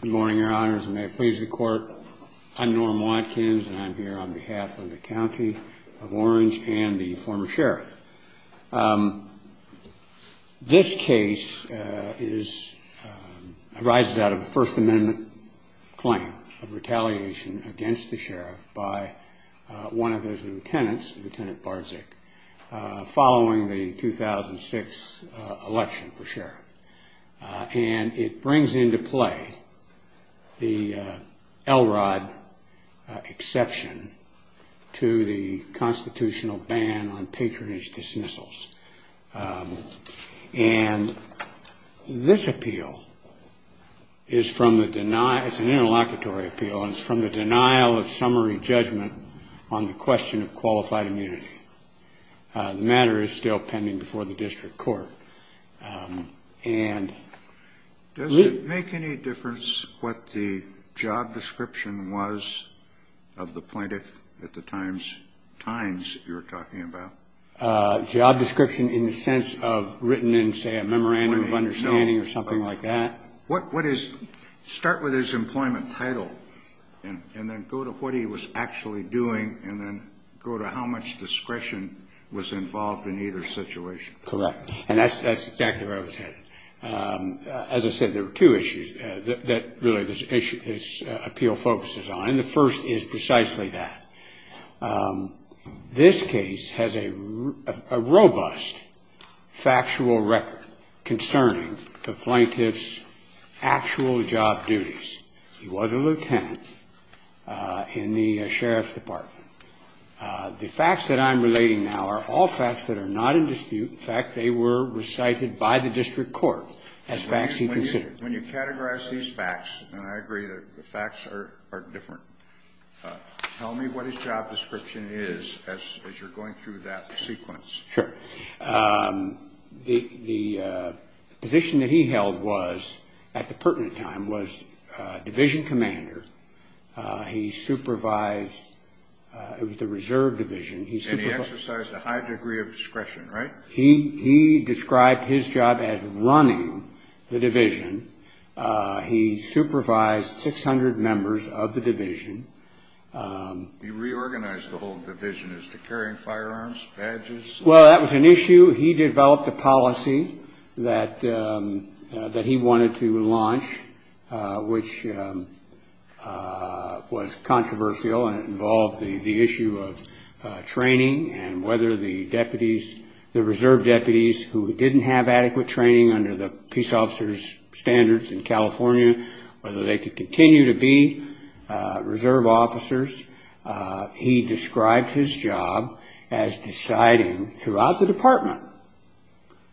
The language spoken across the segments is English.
Good morning, Your Honors, and may it please the Court, I'm Norm Watkins, and I'm here on behalf of the County of Orange and the former Sheriff. This case arises out of a First Amendment claim of retaliation against the Sheriff by one of his lieutenants, Lt. Bardzik, following the 2006 election for Sheriff. And it brings into play the Elrod exception to the constitutional ban on patronage dismissals. And this appeal is from the denial, it's an interlocutory appeal, and it's from the denial of summary judgment on the question of qualified immunity. The matter is still pending before the district court. Does it make any difference what the job description was of the plaintiff at the times you're talking about? Job description in the sense of written in, say, a memorandum of understanding or something like that. Start with his employment title, and then go to what he was actually doing, and then go to how much discretion was involved in either situation. Correct. And that's exactly where I was headed. As I said, there were two issues that really this appeal focuses on, and the first is precisely that. This case has a robust factual record concerning the plaintiff's actual job duties. He was a lieutenant in the Sheriff's Department. The facts that I'm relating now are all facts that are not in dispute. In fact, they were recited by the district court as facts he considered. When you categorize these facts, and I agree that the facts are different, tell me what his job description is as you're going through that sequence. Sure. The position that he held was, at the pertinent time, was division commander. He supervised the reserve division. And he exercised a high degree of discretion, right? He described his job as running the division. He supervised 600 members of the division. He reorganized the whole division as to carrying firearms, badges. Well, that was an issue. He developed a policy that he wanted to launch, which was controversial, and it involved the issue of training and whether the reserve deputies who didn't have adequate training under the peace officer's standards in California, whether they could continue to be reserve officers. He described his job as deciding throughout the department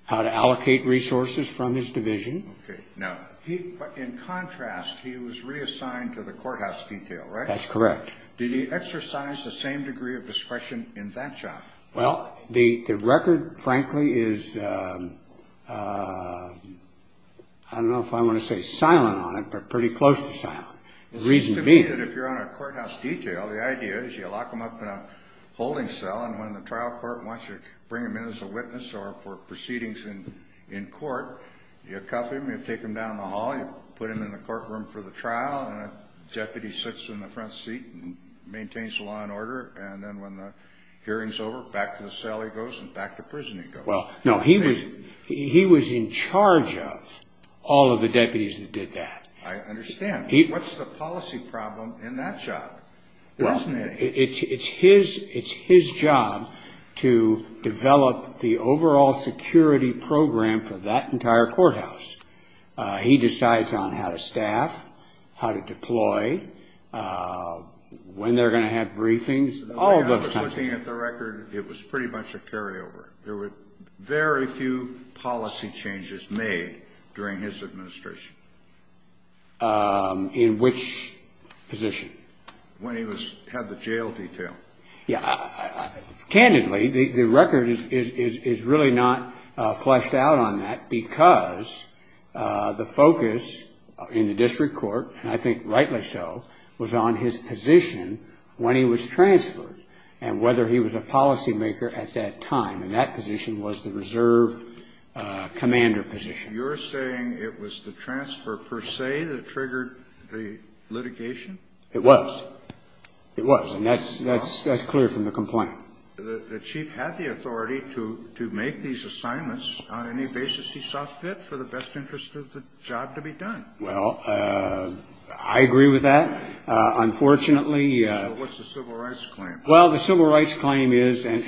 how to allocate resources from his division. Okay. Now, in contrast, he was reassigned to the courthouse detail, right? That's correct. Did he exercise the same degree of discretion in that job? Well, the record, frankly, is, I don't know if I want to say silent on it, but pretty close to silent. It seems to me that if you're on a courthouse detail, the idea is you lock them up in a holding cell, and when the trial court wants you to bring them in as a witness or for proceedings in court, you cuff them, you take them down the hall, you put them in the courtroom for the trial, and a deputy sits in the front seat and maintains the law and order, and then when the hearing's over, back to the cell he goes and back to prison he goes. Well, no, he was in charge of all of the deputies that did that. I understand. What's the policy problem in that job? Well, it's his job to develop the overall security program for that entire courthouse. He decides on how to staff, how to deploy, when they're going to have briefings, all of those kinds of things. The way I was looking at the record, it was pretty much a carryover. There were very few policy changes made during his administration. In which position? When he had the jail detail. Yeah. Candidly, the record is really not fleshed out on that because the focus in the district court, and I think rightly so, was on his position when he was transferred and whether he was a policymaker at that time, and that position was the reserve commander position. You're saying it was the transfer per se that triggered the litigation? It was. It was, and that's clear from the complaint. The chief had the authority to make these assignments on any basis he saw fit for the best interest of the job to be done. Well, I agree with that. So what's the civil rights claim? Well, the civil rights claim is, and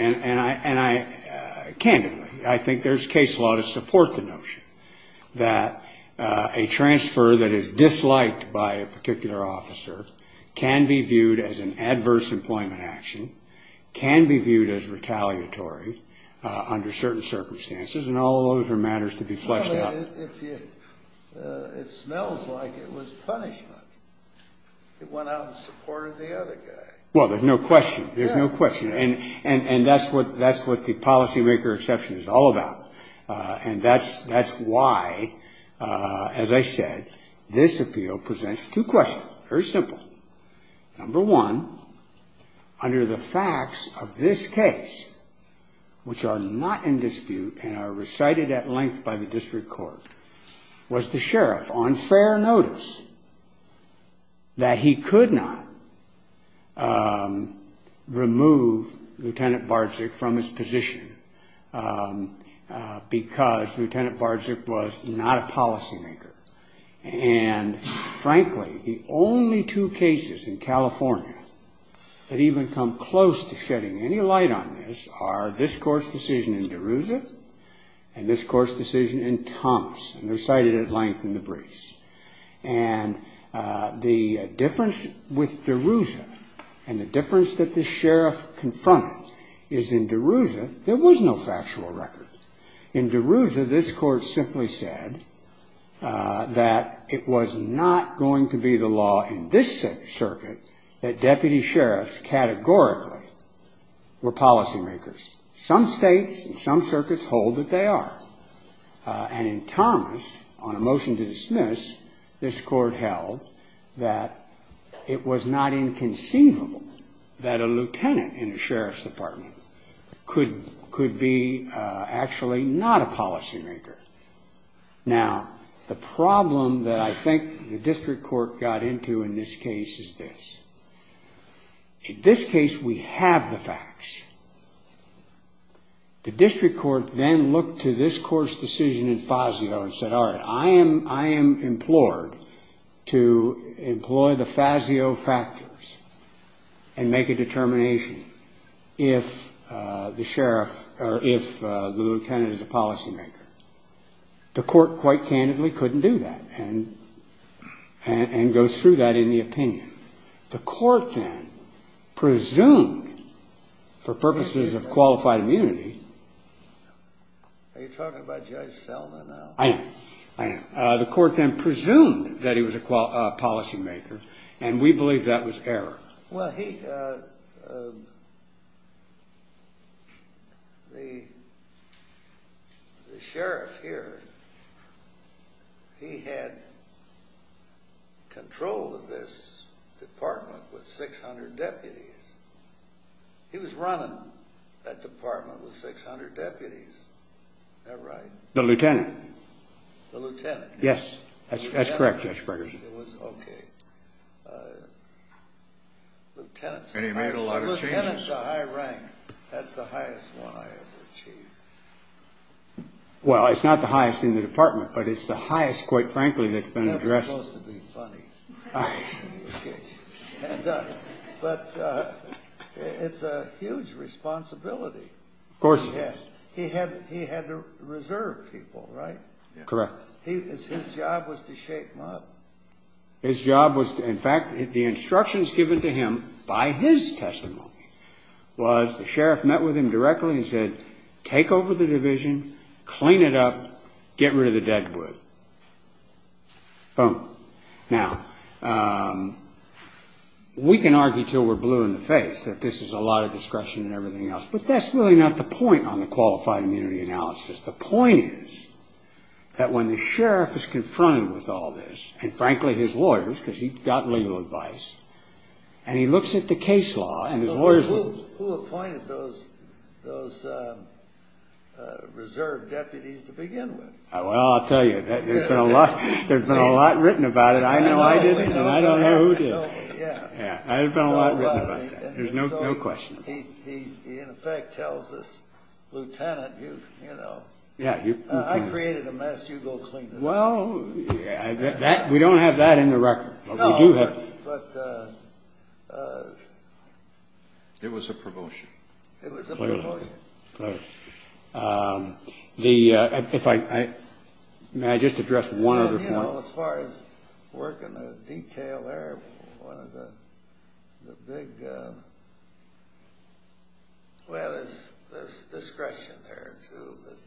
candidly, I think there's case law to support the notion that a transfer that is disliked by a particular officer can be viewed as an adverse employment action, can be viewed as retaliatory under certain circumstances, and all those are matters to be fleshed out. It smells like it was punishment. It went out in support of the other guy. Well, there's no question. There's no question, and that's what the policymaker exception is all about, and that's why, as I said, this appeal presents two questions. Very simple. Number one, under the facts of this case, which are not in dispute and are recited at length by the district court, was the sheriff, on fair notice, that he could not remove Lieutenant Barczyk from his position because Lieutenant Barczyk was not a policymaker, and frankly, the only two cases in California that even come close to shedding any light on this are this court's decision in DeRouza and this court's decision in Thomas, and they're cited at length in the briefs. And the difference with DeRouza and the difference that the sheriff confronted is, in DeRouza, there was no factual record. In DeRouza, this court simply said that it was not going to be the law in this circuit that deputy sheriffs categorically were policymakers. Some states and some circuits hold that they are. And in Thomas, on a motion to dismiss, this court held that it was not inconceivable that a lieutenant in a sheriff's department could be actually not a policymaker. Now, the problem that I think the district court got into in this case is this. In this case, we have the facts. The district court then looked to this court's decision in Fazio and said, all right, I am implored to employ the Fazio factors and make a determination if the lieutenant is a policymaker. The court quite candidly couldn't do that and goes through that in the opinion. The court then presumed, for purposes of qualified immunity. Are you talking about Judge Selma now? I am. I am. The court then presumed that he was a policymaker, and we believe that was error. Well, the sheriff here, he had control of this department with 600 deputies. He was running that department with 600 deputies. Is that right? The lieutenant. The lieutenant. Yes, that's correct, Judge Gregersen. Okay. And he made a lot of changes. The lieutenant's a high rank. That's the highest one I ever achieved. Well, it's not the highest in the department, but it's the highest, quite frankly, that's been addressed. It's never supposed to be funny. But it's a huge responsibility. Of course. He had to reserve people, right? Correct. His job was to shake them up. His job was, in fact, the instructions given to him by his testimony was the sheriff met with him directly and said, take over the division, clean it up, get rid of the dead wood. Boom. Now, we can argue until we're blue in the face that this is a lot of discretion and everything else, but that's really not the point on the qualified immunity analysis. The point is that when the sheriff is confronted with all this, and frankly, his lawyers, because he got legal advice, and he looks at the case law and his lawyers. Who appointed those reserve deputies to begin with? Well, I'll tell you, there's been a lot written about it. I know I didn't, and I don't know who did. Yeah. Yeah, there's been a lot written about that. There's no question. He, in effect, tells this lieutenant, you know, I created a mess, you go clean it up. Well, we don't have that in the record. No, but it was a promotion. It was a promotion. May I just address one other point? Well, you know, as far as working with detail there, one of the big, well, there's discretion there, too, but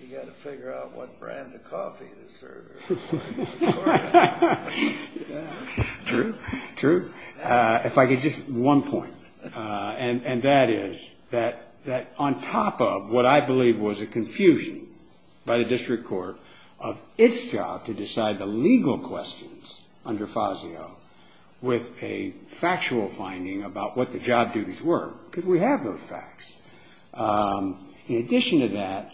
you got to figure out what brand of coffee to serve. True, true. If I could just one point, and that is that on top of what I believe was a confusion by the district court of its job to decide the legal questions under FASIO with a factual finding about what the job duties were, because we have those facts. In addition to that,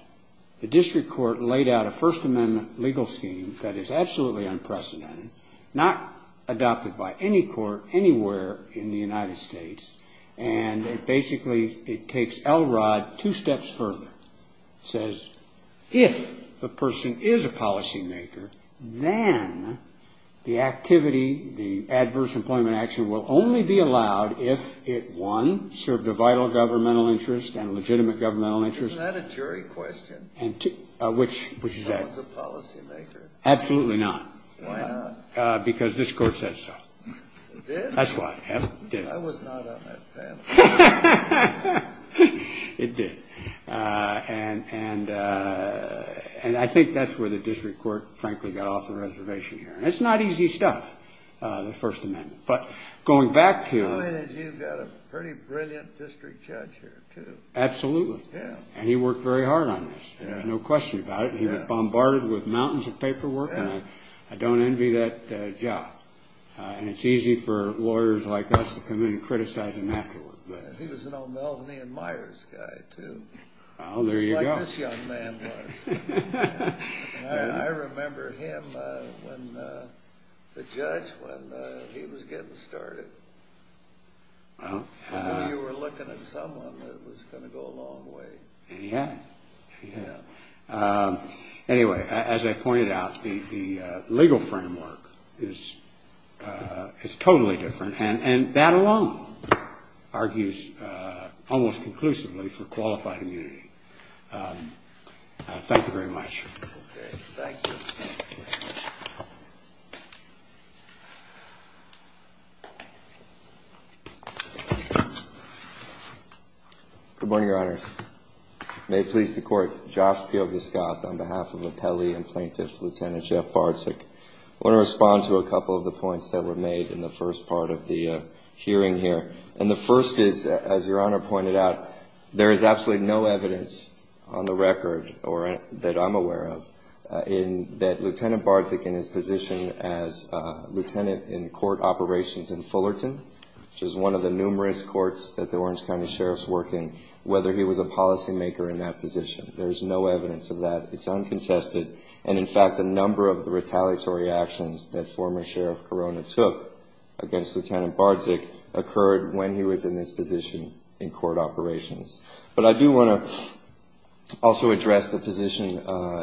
the district court laid out a First Amendment legal scheme that is absolutely unprecedented, not adopted by any court anywhere in the United States, and basically it takes Elrod two steps further. It says if the person is a policymaker, then the activity, the adverse employment action, will only be allowed if it, one, served a vital governmental interest and a legitimate governmental interest. Isn't that a jury question? Which is that? If someone's a policymaker. Absolutely not. Why not? Because this court says so. It did? That's why, yes, it did. I was not on that panel. It did. And I think that's where the district court, frankly, got off the reservation here. And it's not easy stuff, the First Amendment. But going back to- I mean, you've got a pretty brilliant district judge here, too. Absolutely. Yeah. And he worked very hard on this. There's no question about it. He was bombarded with mountains of paperwork, and I don't envy that job. And it's easy for lawyers like us to come in and criticize him afterward. He was an O'Melveny and Myers guy, too. Well, there you go. Just like this young man was. I remember him, the judge, when he was getting started. I knew you were looking at someone that was going to go a long way. Yeah. Anyway, as I pointed out, the legal framework is totally different, and that alone argues almost conclusively for qualified immunity. Thank you very much. Okay. Thank you. Good morning, Your Honors. May it please the Court, Josh Pioviscaz on behalf of the Pelley and Plaintiff, Lieutenant Jeff Bartzik. I want to respond to a couple of the points that were made in the first part of the hearing here. And the first is, as Your Honor pointed out, there is absolutely no evidence on the record that I'm aware of that Lieutenant Bartzik, in his position as lieutenant in court operations in Fullerton, which is one of the numerous courts that the Orange County Sheriff's work in, whether he was a policymaker in that position. There is no evidence of that. It's uncontested. And, in fact, a number of the retaliatory actions that former Sheriff Corona took against Lieutenant Bartzik occurred when he was in this position in court operations. But I do want to also address the position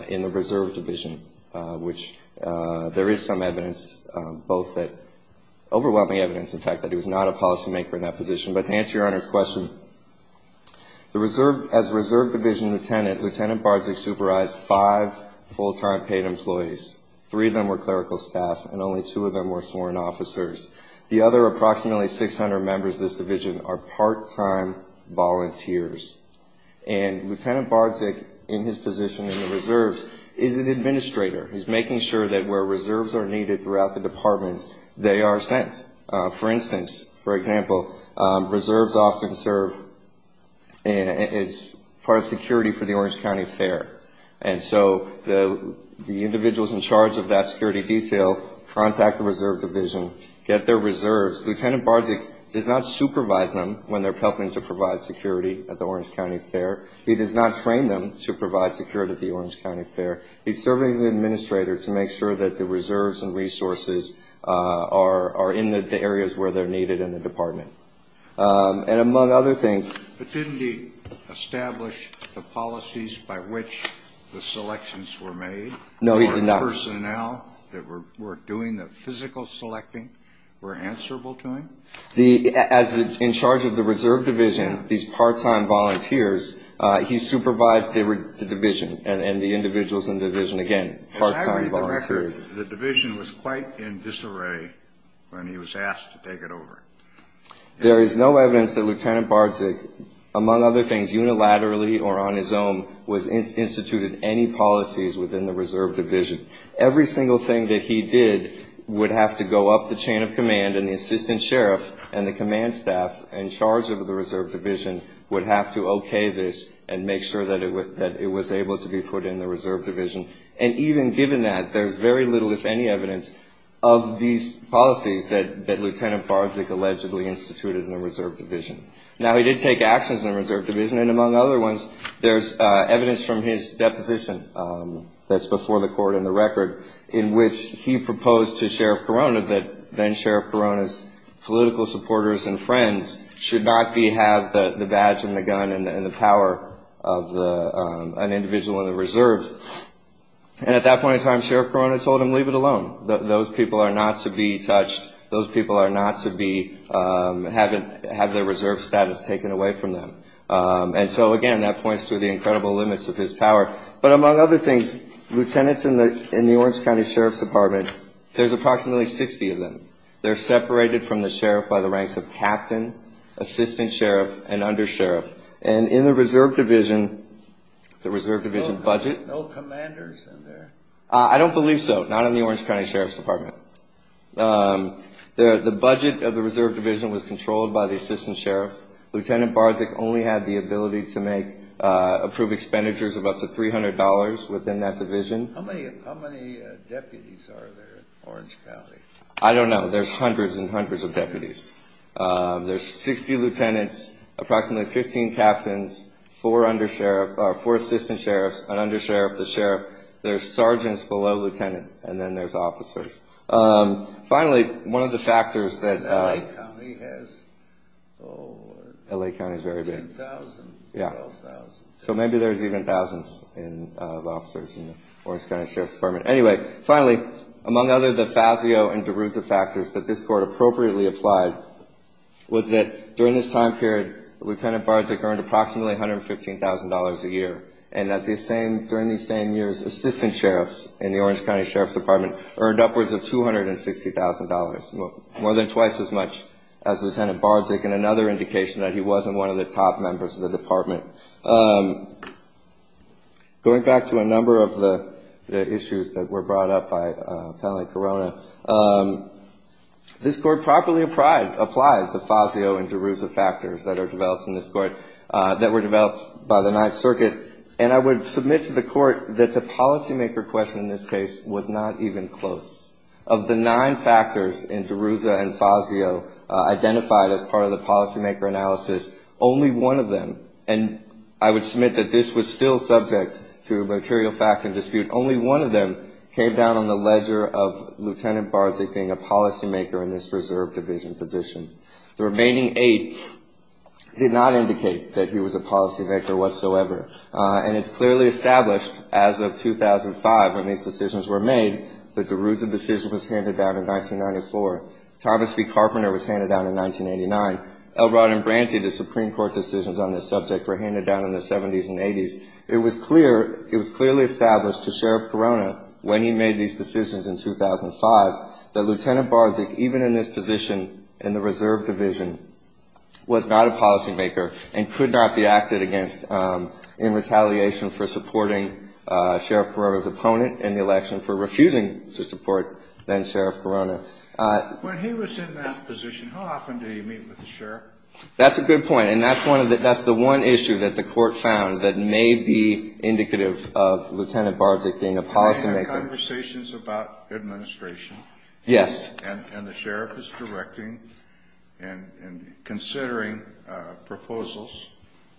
in the Reserve Division, which there is some evidence, overwhelming evidence, in fact, that he was not a policymaker in that position. But to answer Your Honor's question, as Reserve Division lieutenant, Lieutenant Bartzik supervised five full-time paid employees. Three of them were clerical staff, and only two of them were sworn officers. The other approximately 600 members of this division are part-time volunteers. And Lieutenant Bartzik, in his position in the Reserves, is an administrator. He's making sure that where reserves are needed throughout the department, they are sent. For instance, for example, reserves often serve as part of security for the Orange County Fair. And so the individuals in charge of that security detail contact the Reserve Division, get their reserves. Lieutenant Bartzik does not supervise them when they're helping to provide security at the Orange County Fair. He does not train them to provide security at the Orange County Fair. He's serving as an administrator to make sure that the reserves and resources are in the areas where they're needed in the department. And among other things- But didn't he establish the policies by which the selections were made? No, he did not. The personnel that were doing the physical selecting were answerable to him? As in charge of the Reserve Division, these part-time volunteers, he supervised the division and the individuals in the division, again, part-time volunteers. As I read the records, the division was quite in disarray when he was asked to take it over. There is no evidence that Lieutenant Bartzik, among other things, unilaterally or on his own, was instituted any policies within the Reserve Division. Every single thing that he did would have to go up the chain of command, and the assistant sheriff and the command staff in charge of the Reserve Division would have to okay this and make sure that it was able to be put in the Reserve Division. And even given that, there's very little, if any, evidence of these policies that Lieutenant Bartzik allegedly instituted in the Reserve Division. Now, he did take actions in the Reserve Division. And among other ones, there's evidence from his deposition that's before the court in the record in which he proposed to Sheriff Corona that then Sheriff Corona's political supporters and friends should not have the badge and the gun and the power of an individual in the Reserves. And at that point in time, Sheriff Corona told him, leave it alone. Those people are not to be touched. Those people are not to be having their reserve status taken away from them. And so, again, that points to the incredible limits of his power. But among other things, lieutenants in the Orange County Sheriff's Department, there's approximately 60 of them. They're separated from the sheriff by the ranks of captain, assistant sheriff, and undersheriff. And in the Reserve Division, the Reserve Division budget. No commanders in there? I don't believe so. Not in the Orange County Sheriff's Department. The budget of the Reserve Division was controlled by the assistant sheriff. Lieutenant Bartzik only had the ability to make approved expenditures of up to $300 within that division. How many deputies are there in Orange County? I don't know. There's hundreds and hundreds of deputies. There's 60 lieutenants, approximately 15 captains, four undersheriff, four assistant sheriffs, an undersheriff, the sheriff, there's sergeants below lieutenant, and then there's officers. Finally, one of the factors that- LA County has? LA County is very big. 10,000? Yeah. 12,000? So maybe there's even thousands of officers in the Orange County Sheriff's Department. Anyway, finally, among other the Fazio and DeRuza factors that this court appropriately applied, was that during this time period, Lieutenant Bartzik earned approximately $115,000 a year. And during these same years, assistant sheriffs in the Orange County Sheriff's Department earned upwards of $260,000, more than twice as much as Lieutenant Bartzik, and another indication that he wasn't one of the top members of the department. Going back to a number of the issues that were brought up by Appellate Corona, this court properly applied the Fazio and DeRuza factors that are developed in this court, that were developed by the Ninth Circuit, and I would submit to the court that the policymaker question in this case was not even close. Of the nine factors in DeRuza and Fazio identified as part of the policymaker analysis, only one of them, and I would submit that this was still subject to material fact and dispute, only one of them came down on the ledger of Lieutenant Bartzik being a policymaker in this reserve division position. The remaining eight did not indicate that he was a policymaker whatsoever, and it's clearly established as of 2005 when these decisions were made that the DeRuza decision was handed down in 1994. Thomas B. Carpenter was handed down in 1989. Elrod and Branty, the Supreme Court decisions on this subject, were handed down in the 70s and 80s. It was clear, it was clearly established to Sheriff Corona when he made these decisions in 2005, that Lieutenant Bartzik, even in this position in the reserve division, was not a policymaker and could not be acted against in retaliation for supporting Sheriff Corona's opponent in the election for refusing to support then-Sheriff Corona. When he was in that position, how often did he meet with the sheriff? That's a good point, and that's the one issue that the court found that may be indicative of Lieutenant Bartzik being a policymaker. You had conversations about administration. Yes. And the sheriff is directing and considering proposals,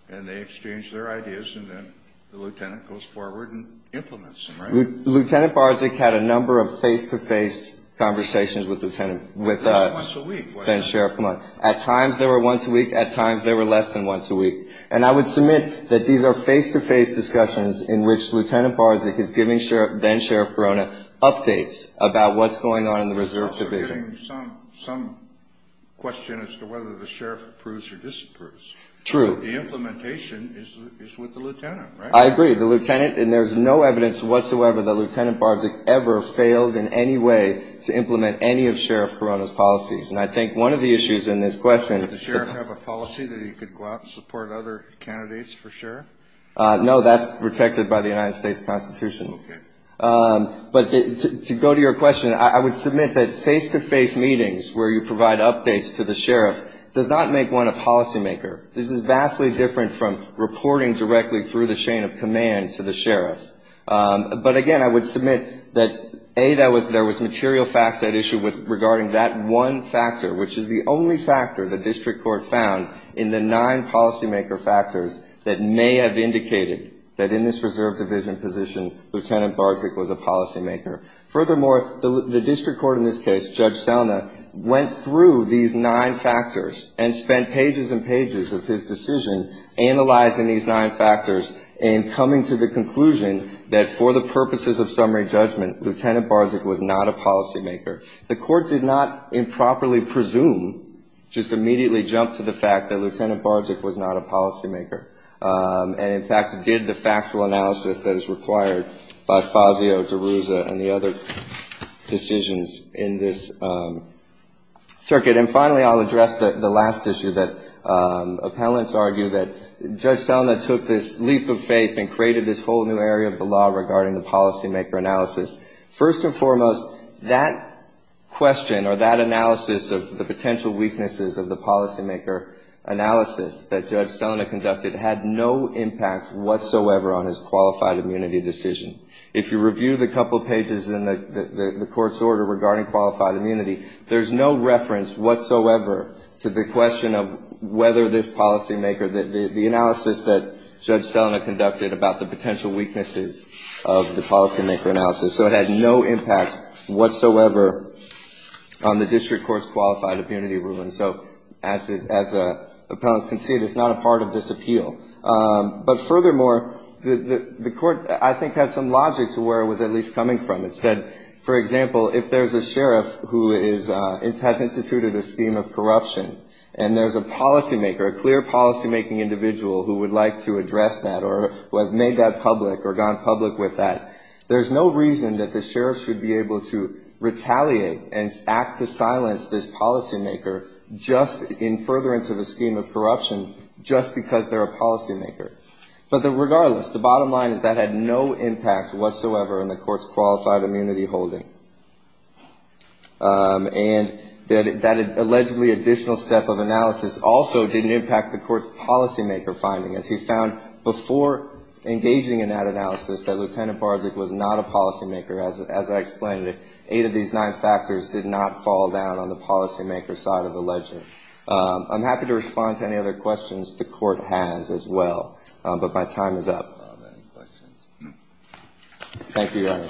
and they exchange their ideas, and then the lieutenant goes forward and implements them, right? Lieutenant Bartzik had a number of face-to-face conversations with Lieutenant, with then-Sheriff Corona. At least once a week. At times they were once a week, at times they were less than once a week. And I would submit that these are face-to-face discussions in which Lieutenant Bartzik is giving then-Sheriff Corona updates about what's going on in the reserve division. We're getting some question as to whether the sheriff approves or disapproves. True. The implementation is with the lieutenant, right? I agree. The lieutenant, and there's no evidence whatsoever that Lieutenant Bartzik ever failed in any way to implement any of Sheriff Corona's policies. And I think one of the issues in this question — Does the sheriff have a policy that he could go out and support other candidates for sheriff? No, that's protected by the United States Constitution. Okay. But to go to your question, I would submit that face-to-face meetings where you provide updates to the sheriff does not make one a policymaker. This is vastly different from reporting directly through the chain of command to the sheriff. But, again, I would submit that, A, there was material facts at issue regarding that one factor, which is the only factor the district court found in the nine policymaker factors that may have indicated that in this reserve division position Lieutenant Bartzik was a policymaker. Furthermore, the district court in this case, Judge Selna, went through these nine factors and spent pages and pages of his decision analyzing these nine factors and coming to the conclusion that for the purposes of summary judgment, Lieutenant Bartzik was not a policymaker. The court did not improperly presume, just immediately jumped to the fact that Lieutenant Bartzik was not a policymaker. And, in fact, did the factual analysis that is required by Fazio, DeRuza, and the other decisions in this circuit. And, finally, I'll address the last issue that appellants argue that Judge Selna took this leap of faith and created this whole new area of the law regarding the policymaker analysis. First and foremost, that question or that analysis of the potential weaknesses of the policymaker analysis that Judge Selna conducted had no impact whatsoever on his qualified immunity decision. If you review the couple of pages in the court's order regarding qualified immunity, there's no reference whatsoever to the question of whether this policymaker, the analysis that Judge Selna conducted about the potential weaknesses of the policymaker analysis. So it had no impact whatsoever on the district court's qualified immunity ruling. So as appellants can see, there's not a part of this appeal. But, furthermore, the court, I think, has some logic to where it was at least coming from. It said, for example, if there's a sheriff who has instituted a scheme of corruption and there's a policymaker, a clear policymaking individual who would like to address that or who has made that public or gone public with that, there's no reason that the sheriff should be able to retaliate and act to silence this policymaker just in furtherance of a scheme of corruption just because they're a policymaker. But regardless, the bottom line is that had no impact whatsoever on the court's qualified immunity holding. And that allegedly additional step of analysis also didn't impact the court's policymaker finding, as he found before engaging in that analysis that Lieutenant Barczyk was not a policymaker. As I explained, eight of these nine factors did not fall down on the policymaker side of the ledger. I'm happy to respond to any other questions the court has as well. But my time is up. Thank you, Your Honor.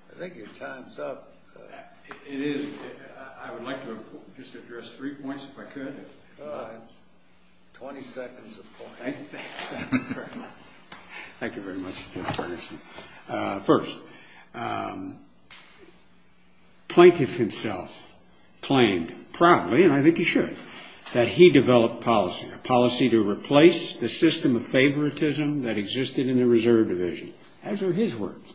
I think your time's up. It is. I would like to just address three points if I could. Twenty seconds, of course. Thank you very much, Justice Ferguson. First, Plaintiff himself claimed proudly, and I think he should, that he developed policy, a policy to replace the system of favoritism that existed in the Reserve Division, as are his words.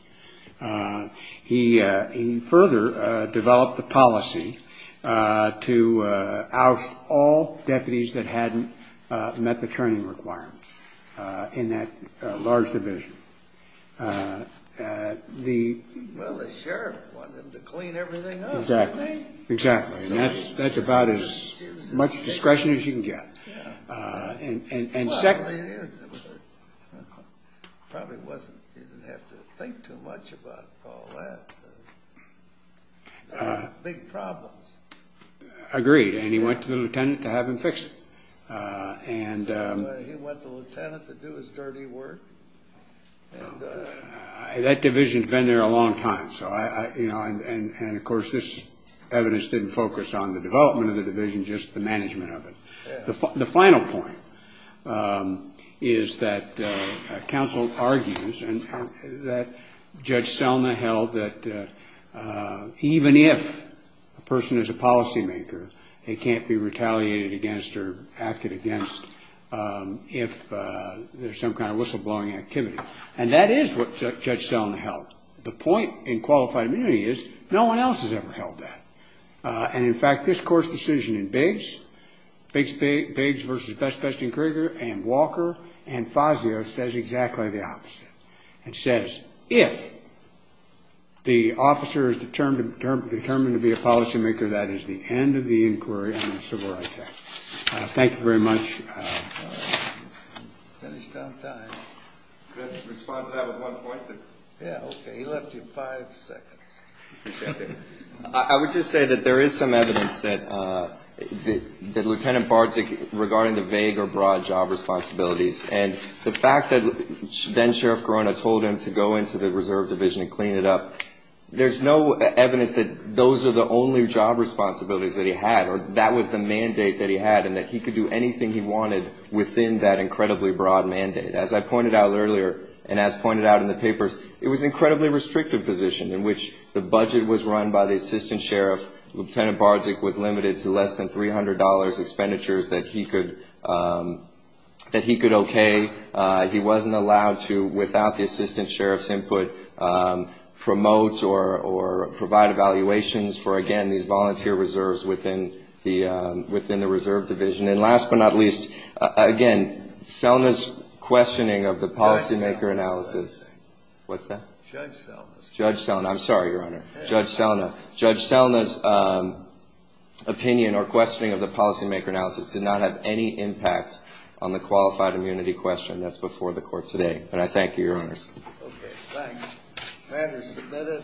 He further developed a policy to oust all deputies that hadn't met the training requirements in that large division. Well, the sheriff wanted them to clean everything up, didn't he? Exactly. And that's about as much discretion as you can get. Well, he probably didn't have to think too much about all that. Big problems. Agreed. And he went to the lieutenant to have him fix it. He went to the lieutenant to do his dirty work. That division had been there a long time. And, of course, this evidence didn't focus on the development of the division, just the management of it. The final point is that counsel argues that Judge Selna held that even if a person is a policymaker, they can't be retaliated against or acted against if there's some kind of whistleblowing activity. And that is what Judge Selna held. The point in qualified immunity is no one else has ever held that. And, in fact, this court's decision in Bates, Bates v. Best, Best, and Krieger and Walker and Fazio says exactly the opposite. It says if the officer is determined to be a policymaker, that is the end of the inquiry on the civil rights act. Thank you very much. Finished on time. Could I respond to that with one point? Yeah, okay. He left you five seconds. I would just say that there is some evidence that Lieutenant Bardzig, regarding the vague or broad job responsibilities, and the fact that then-Sheriff Corona told him to go into the reserve division and clean it up, there's no evidence that those are the only job responsibilities that he had or that was the mandate that he had and that he could do anything he wanted within that incredibly broad mandate. As I pointed out earlier and as pointed out in the papers, it was an incredibly restrictive position in which the budget was run by the assistant sheriff. Lieutenant Bardzig was limited to less than $300 expenditures that he could okay. He wasn't allowed to, without the assistant sheriff's input, promote or provide evaluations for, again, these volunteer reserves within the reserve division. And last but not least, again, Selna's questioning of the policymaker analysis. What's that? Judge Selna. Judge Selna. I'm sorry, Your Honor. Judge Selna. Judge Selna's opinion or questioning of the policymaker analysis did not have any impact on the qualified immunity question. That's before the court today. And I thank you, Your Honor. Okay, thanks. That is submitted.